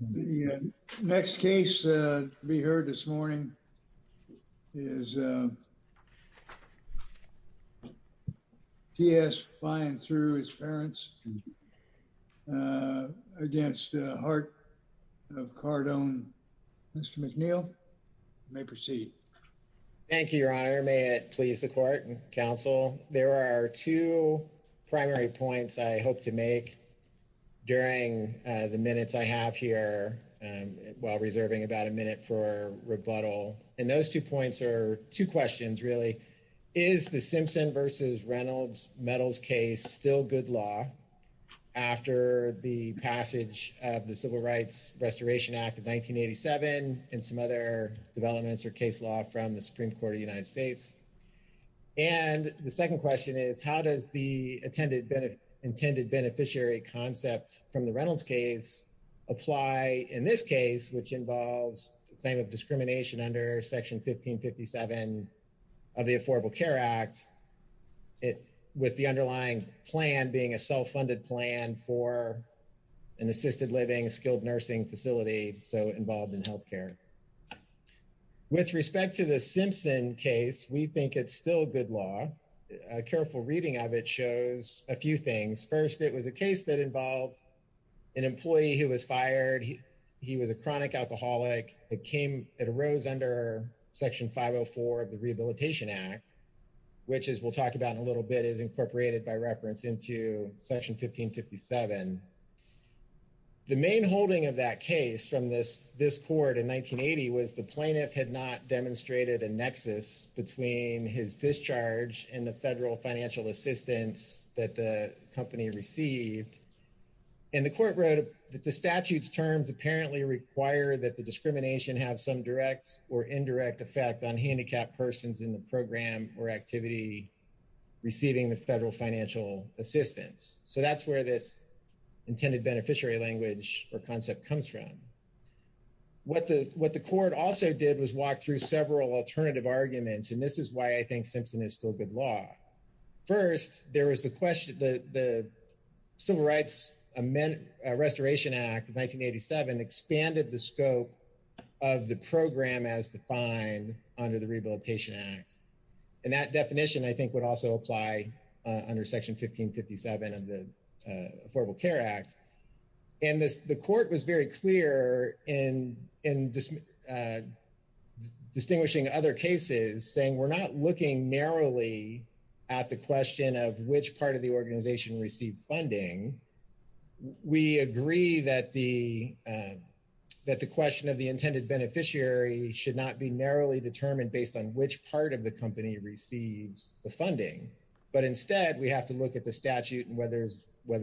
The next case to be heard this morning is T.S. flying through his parents against Heart of CarDon. Mr. McNeil, you may proceed. Thank you, Your Honor. May it please the Court and Counsel. There are two primary points I hope to make during the minutes I have here while reserving about a minute for rebuttal. And those two points are two questions, really. Is the Simpson v. Reynolds metals case still good law after the passage of the Civil Rights Restoration Act of 1987 and some other developments or case law from the Supreme Court of the United States? And the second question is, how does the intended beneficiary concept from the Reynolds case apply in this case, which involves the claim of discrimination under Section 1557 of the Affordable Care Act, with the underlying plan being a self-funded plan for an assisted living, skilled nursing facility, so involved in health care? With respect to the Simpson case, we think it's still good law. A careful reading of it shows a few things. First, it was a case that involved an employee who was fired. He was a chronic alcoholic. It arose under Section 504 of the Rehabilitation Act, which, as we'll talk about in a little bit, is incorporated by reference into Section 1557. The main holding of that case from this court in 1980 was the plaintiff had not demonstrated a nexus between his discharge and the federal financial assistance that the company received. And the court wrote that the statute's terms apparently require that the discrimination have some direct or indirect effect on handicapped persons in the program or activity receiving the federal financial assistance. So that's where this intended beneficiary language or concept comes from. What the court also did was walk through several alternative arguments, and this is why I think Simpson is still good law. First, there was the question, the Civil Rights Restoration Act of 1987 expanded the scope of the program as defined under the under Section 1557 of the Affordable Care Act. And the court was very clear in distinguishing other cases, saying we're not looking narrowly at the question of which part of the organization received funding. We agree that the question of the intended beneficiary should not be narrowly determined based on which part of the company receives the funding. But instead, we have to look at the statute and whether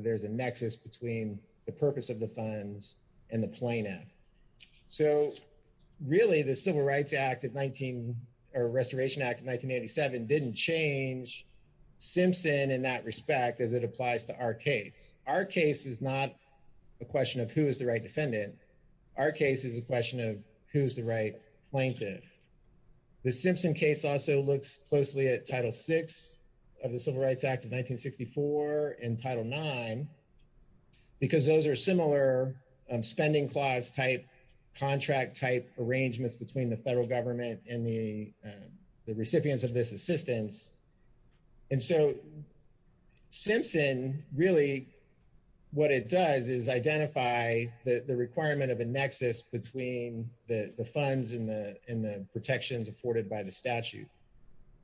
there's a nexus between the purpose of the funds and the plaintiff. So really, the Civil Rights Act of 19 or Restoration Act of 1987 didn't change Simpson in that respect as it applies to our case. Our case is not a question of who is the right defendant. Our case is a question of who's the right plaintiff. The Civil Rights Act of 1964 and Title IX, because those are similar spending clause-type, contract-type arrangements between the federal government and the recipients of this assistance. And so Simpson really, what it does is identify the requirement of a nexus between the funds and the protections afforded by the statute,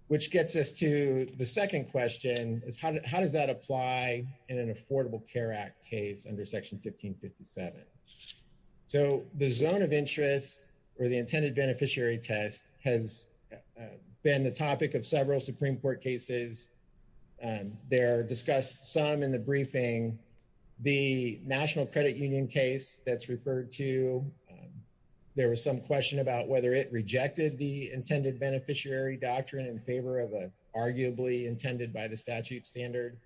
which gets us to the second question is how does that apply in an Affordable Care Act case under Section 1557? So the zone of interest or the intended beneficiary test has been the topic of several Supreme Court cases. There are discussed some in the briefing. The National Credit Union case that's referred to, there was some question about whether it rejected the intended beneficiary doctrine in favor of arguably intended by the statute standard.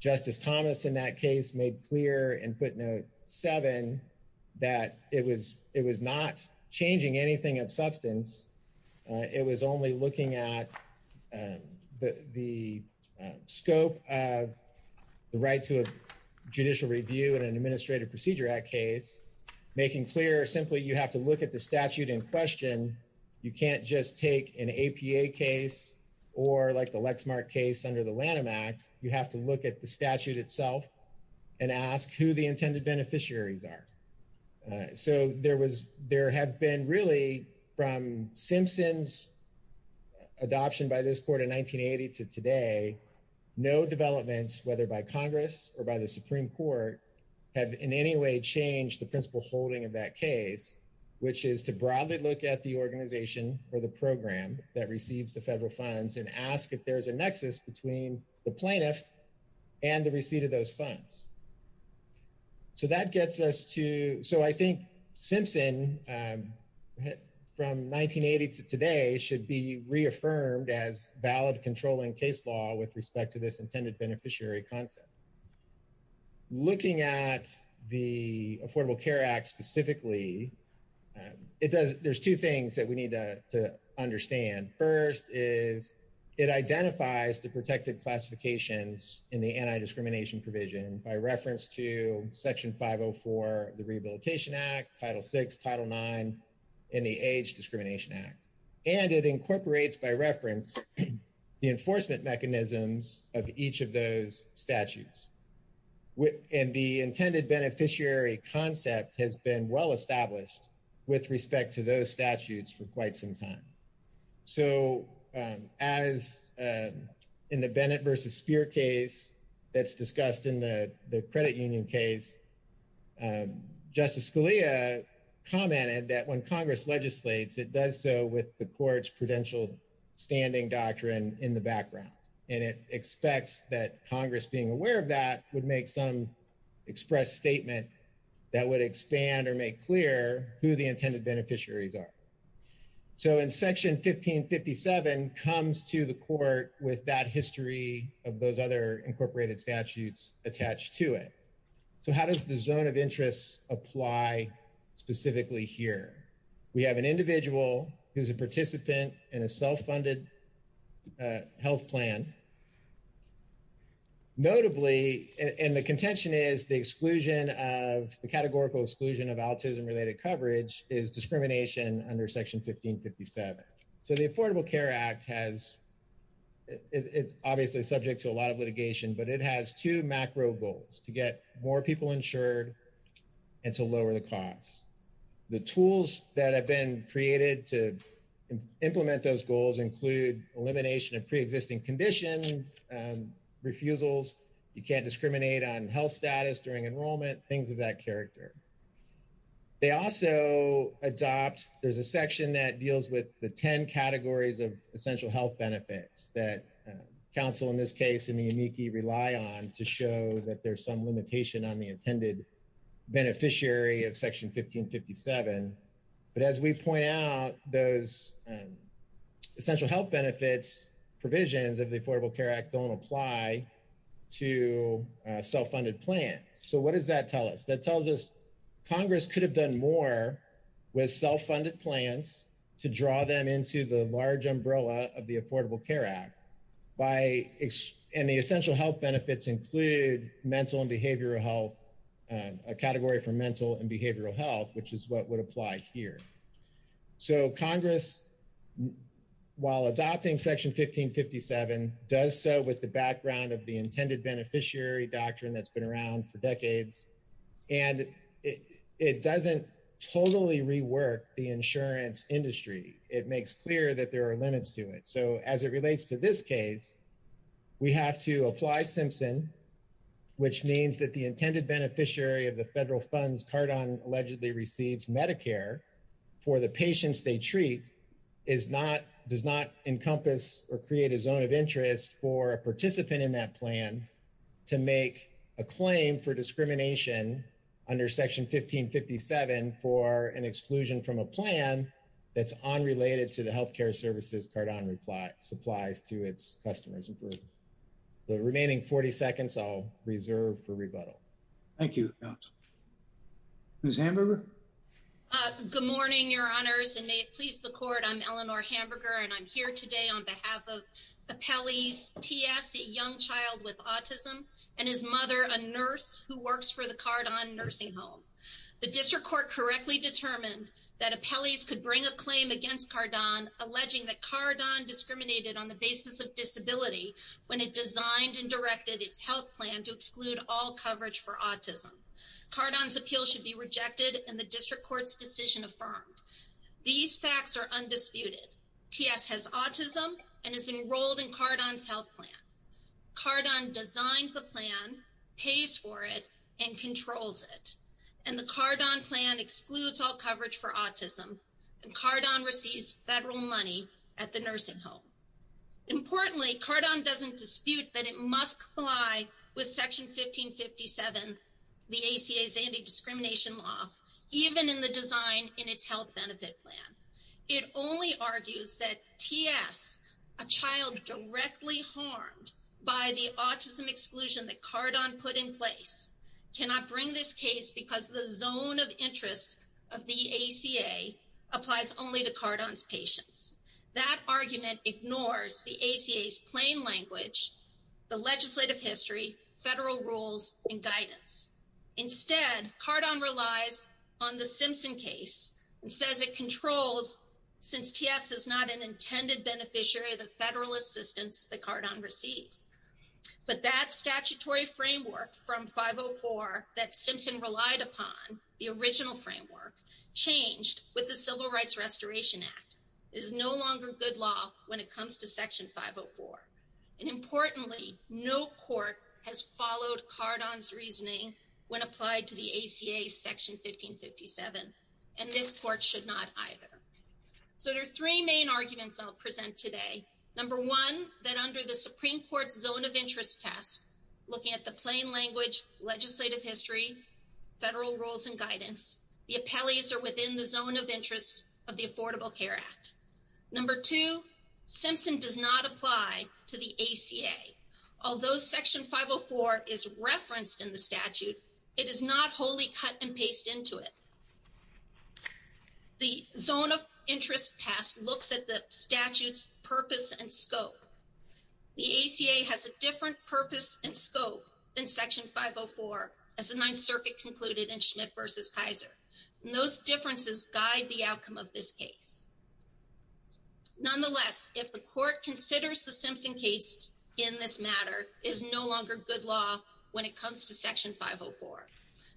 Justice Thomas in that case made clear in footnote seven that it was not changing anything of substance. It was only looking at the scope of the right to judicial review in an Administrative Procedure Act case, making clear simply you have to look at the statute in question. You can't just take an APA case or like the Lexmark case under the Lanham Act. You have to look at the statute itself and ask who the intended beneficiaries are. So there was, there have been really from Simpson's adoption by this court in 1980 to today, no developments, whether by Congress or by the Supreme Court have in any way changed the principle holding of that case, which is to broadly look at the organization or the program that receives the federal funds and ask if there's a nexus between the plaintiff and the receipt of those funds. So that gets us to, so I think Simpson from 1980 to today should be reaffirmed as valid controlling case law with respect to this intended beneficiary concept. Looking at the Affordable Care Act specifically, it does, there's two things that we need to understand. First is it identifies the protected classifications in the anti-discrimination provision by reference to Section 504 of the Rehabilitation Act, Title VI, Title IX, and the Age Discrimination Act. And it incorporates by reference the enforcement mechanisms of each of those statutes. And the intended beneficiary concept has been well-established with respect to those statutes for quite some time. So as in the Bennett versus Speer case that's discussed in the credit union case, Justice Scalia commented that when Congress legislates, it does so with the court's prudential standing doctrine in the background. And it expects that Congress being aware of that would make some expressed statement that would expand or make clear who the intended beneficiaries are. So in Section 1557 comes to the court with that history of those other incorporated statutes attached to it. So how does the zone of interest apply specifically here? We have an individual who's a participant in a self-funded health plan. Notably, and the contention is the exclusion of, the categorical exclusion of autism-related coverage is discrimination under Section 1557. So the Affordable Care Act has, it's obviously subject to a lot of litigation, but it has two macro goals, to get more people insured and to lower the cost. The tools that have been created to implement those goals include elimination of preexisting conditions, refusals, you can't discriminate on health status during enrollment, things of that character. They also adopt, there's a section that deals with the 10 categories of essential health benefits that counsel in this case in the amici rely on to show that there's some limitation on the intended beneficiary of Section 1557. But as we point out, those essential health benefits provisions of the Affordable Care Act don't apply to self-funded plans. So what does that tell us? That tells us Congress could have done more with self-funded plans to draw them into the large umbrella of the Affordable Care Act by, and the essential health benefits include mental and behavioral health, a category for mental and behavioral health, which is what would apply here. So Congress, while adopting Section 1557, does so with the background of the intended beneficiary doctrine that's been around for decades, and it doesn't totally rework the insurance industry. It makes clear that there are limits to it. So as it relates to this case, we have to apply Simpson, which means that the intended beneficiary of the federal funds Cardon allegedly receives Medicare for the patients they treat does not encompass or create a zone of interest for a participant in that plan to make a claim for discrimination under Section 1557 for an exclusion from a number of services Cardon supplies to its customers. And for the remaining 40 seconds, I'll reserve for rebuttal. Thank you. Ms. Hamburger? Good morning, Your Honors, and may it please the Court, I'm Eleanor Hamburger, and I'm here today on behalf of Appellees TS, a young child with autism, and his mother, a nurse who works for the Cardon Nursing Home. The District Court correctly determined that Appellees could bring a claim against Cardon, alleging that Cardon discriminated on the basis of disability when it designed and directed its health plan to exclude all coverage for autism. Cardon's appeal should be rejected, and the District Court's decision affirmed. These facts are undisputed. TS has autism and is enrolled in Cardon's health plan. Cardon designed the plan, pays for it, and controls it. And the Cardon plan excludes all coverage for autism, and Cardon receives federal money at the nursing home. Importantly, Cardon doesn't dispute that it must comply with Section 1557, the ACA's anti-discrimination law, even in the design in its health benefit plan. It only argues that TS, a child directly harmed by the autism exclusion that Cardon put in place, cannot bring this case because the zone of interest of the ACA applies only to Cardon's patients. That argument ignores the ACA's plain language, the legislative history, federal rules, and guidance. Instead, Cardon relies on the Simpson case and says it controls, since TS is not an intended beneficiary, the case. But that statutory framework from 504 that Simpson relied upon, the original framework, changed with the Civil Rights Restoration Act. It is no longer good law when it comes to Section 504. And importantly, no court has followed Cardon's reasoning when applied to the ACA's Section 1557, and this court should not either. So there are three main arguments I'll present today. Number one, that under the Supreme Court's zone of interest test, looking at the plain language, legislative history, federal rules, and guidance, the appellees are within the zone of interest of the Affordable Care Act. Number two, Simpson does not apply to the ACA. Although Section 504 is referenced in the statute, it is not cut and paste into it. The zone of interest test looks at the statute's purpose and scope. The ACA has a different purpose and scope than Section 504 as the Ninth Circuit concluded in Schmidt v. Kaiser. And those differences guide the outcome of this case. Nonetheless, if the court considers the Simpson case in this matter is no longer good law when it comes to Section 504,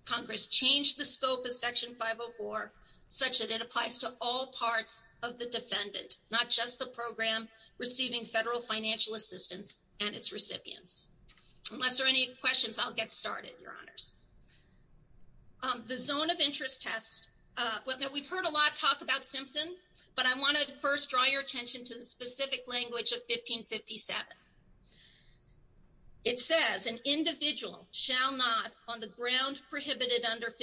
Congress changed the scope of Section 504 such that it applies to all parts of the defendant, not just the program receiving federal financial assistance and its recipients. Unless there are any questions, I'll get started, Your Honors. The zone of interest test, we've heard a lot talk about Simpson, but I want to first draw your attention to the specific language of 1557. It says, an individual shall not, on the ground prohibited under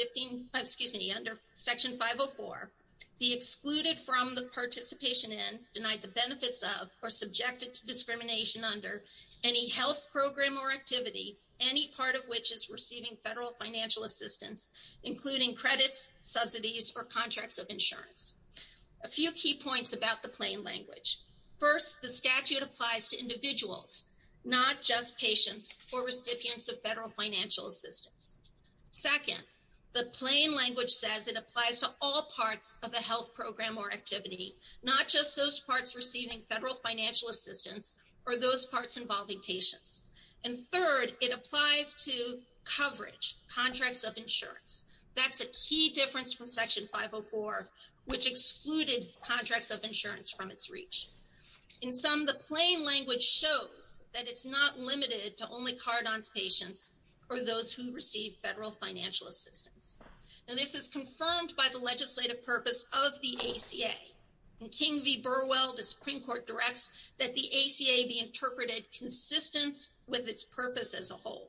Section 504, be excluded from the participation in, denied the benefits of, or subjected to discrimination under any health program or activity, any part of which is receiving federal financial assistance, including credits, subsidies, or contracts of insurance. A few key points about the plain language. First, the statute applies to individuals, not just patients or recipients of federal financial assistance. Second, the plain language says it applies to all parts of a health program or activity, not just those parts receiving federal financial assistance or those parts involving patients. And third, it applies to coverage, contracts of insurance. That's a key difference from Section 504, which excluded contracts of insurance from its reach. In some, the plain language shows that it's not limited to only Cardon's patients or those who receive federal financial assistance. Now, this is confirmed by the legislative purpose of the ACA. In King v. Burwell, the Supreme Court directs that the ACA be interpreted consistent with its purpose as a whole.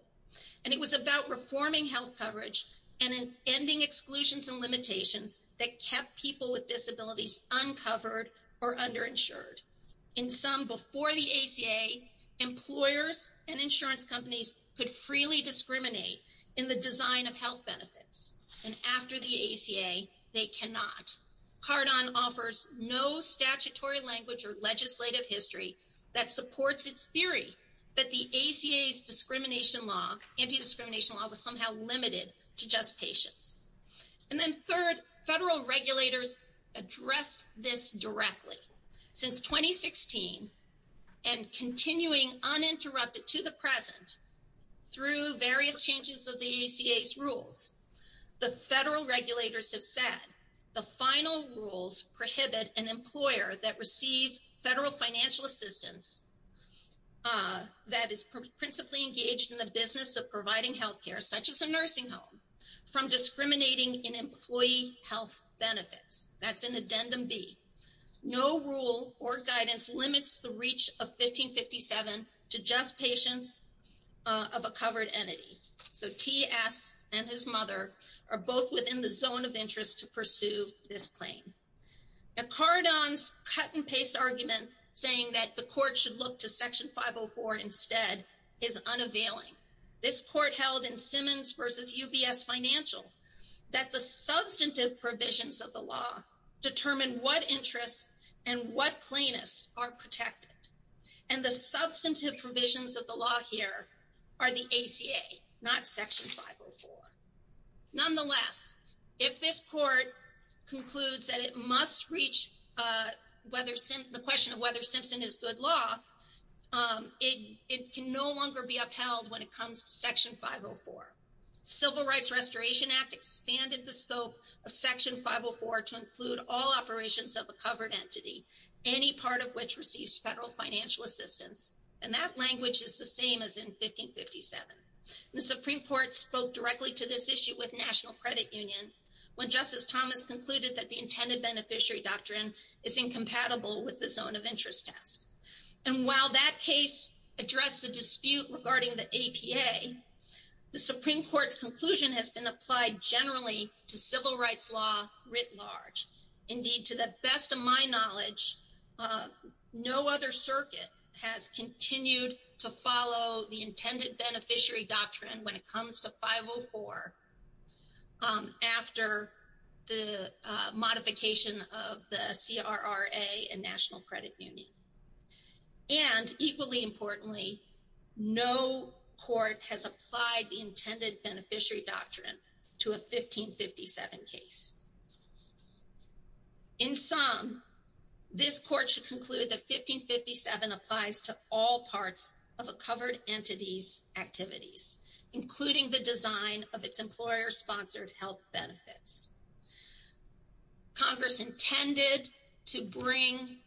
And it was about reforming health coverage and ending exclusions and limitations that kept people with disabilities uncovered or underinsured. In some, before the ACA, employers and insurance companies could freely discriminate in the design of health benefits. And after the ACA, they cannot. Cardon offers no statutory language or legislative history that supports its theory that the ACA's anti-discrimination law was somehow limited to just patients. And then third, federal regulators addressed this directly. Since 2016 and continuing uninterrupted to the present through various changes of the ACA's rules, the federal regulators have said the final rules prohibit an employer that received federal financial assistance that is principally engaged in the business of providing health care, such as a nursing home, from discriminating in employee health benefits. That's an addendum B. No rule or guidance limits the reach of 1557 to just patients of a covered entity. So, T.S. and his mother are both within the zone of interest to pursue this claim. Now, Cardon's patent-based argument saying that the court should look to Section 504 instead is unavailing. This court held in Simmons v. UBS Financial that the substantive provisions of the law determine what interests and what plaintiffs are protected. And the substantive provisions of the law here are the ACA, not Section 504. Nonetheless, if this court concludes that it must reach whether the question of whether Simpson is good law, it can no longer be upheld when it comes to Section 504. Civil Rights Restoration Act expanded the scope of Section 504 to include all operations of a covered entity, any part of which receives federal financial assistance. And that language is the same as in 1557. The Supreme Court spoke directly to this issue with National Credit Union when Justice Thomas concluded that the intended beneficiary doctrine is incompatible with the zone of interest test. And while that case addressed the dispute regarding the APA, the Supreme Court's conclusion has been applied generally to civil rights law writ large. Indeed, to the best of my knowledge, no other circuit has continued to follow the intended beneficiary doctrine when it comes to 504 after the modification of the CRRA and National Credit Union. And equally importantly, no court has applied the intended beneficiary doctrine to a 1557 case. In sum, this court should conclude that 1557 applies to all parts of a covered entity's including the design of its employer-sponsored health benefits. Congress intended to bring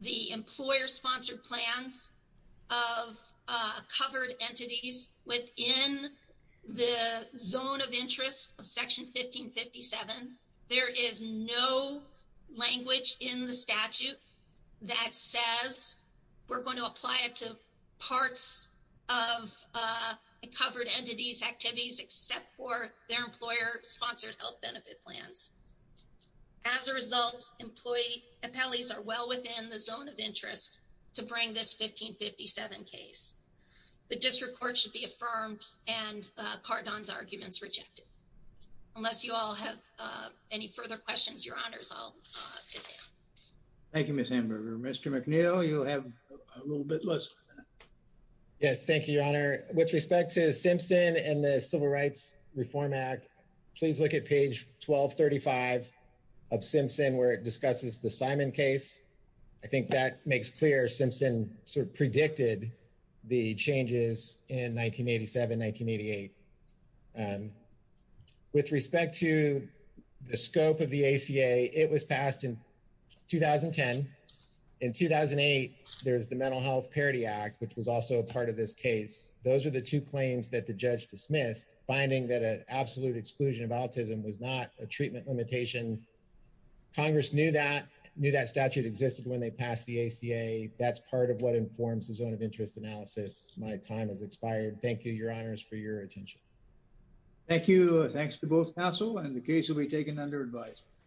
the employer-sponsored plans of covered entities within the zone of interest of Section 1557. There is no language in the statute that says we're going to apply it to parts of a covered entity's activities except for their employer-sponsored health benefit plans. As a result, employee appellees are well within the zone of interest to bring this 1557 case. The district court should be affirmed and Cardon's arguments rejected. Unless you all have any further questions, your honors, I'll sit down. Thank you, Ms. Hamburger. Mr. McNeil, you have a little bit less. Yes, thank you, your honor. With respect to Simpson and the Civil Rights Reform Act, please look at page 1235 of Simpson where it discusses the Simon case. I think that makes clear Simpson sort of predicted the changes in 1987-1988. With respect to the scope of the ACA, it was passed in 2010. In 2008, there's the Mental Health Parity Act, which was also a part of this case. Those are the two claims that the judge dismissed, finding that an absolute exclusion of autism was not a treatment limitation. Congress knew that statute existed when they passed the ACA. That's part of what informs the zone of interest analysis. My time has expired. Thank you, your honors, for your attention. Thank you. Thanks to both counsel and the case will be taken under advice.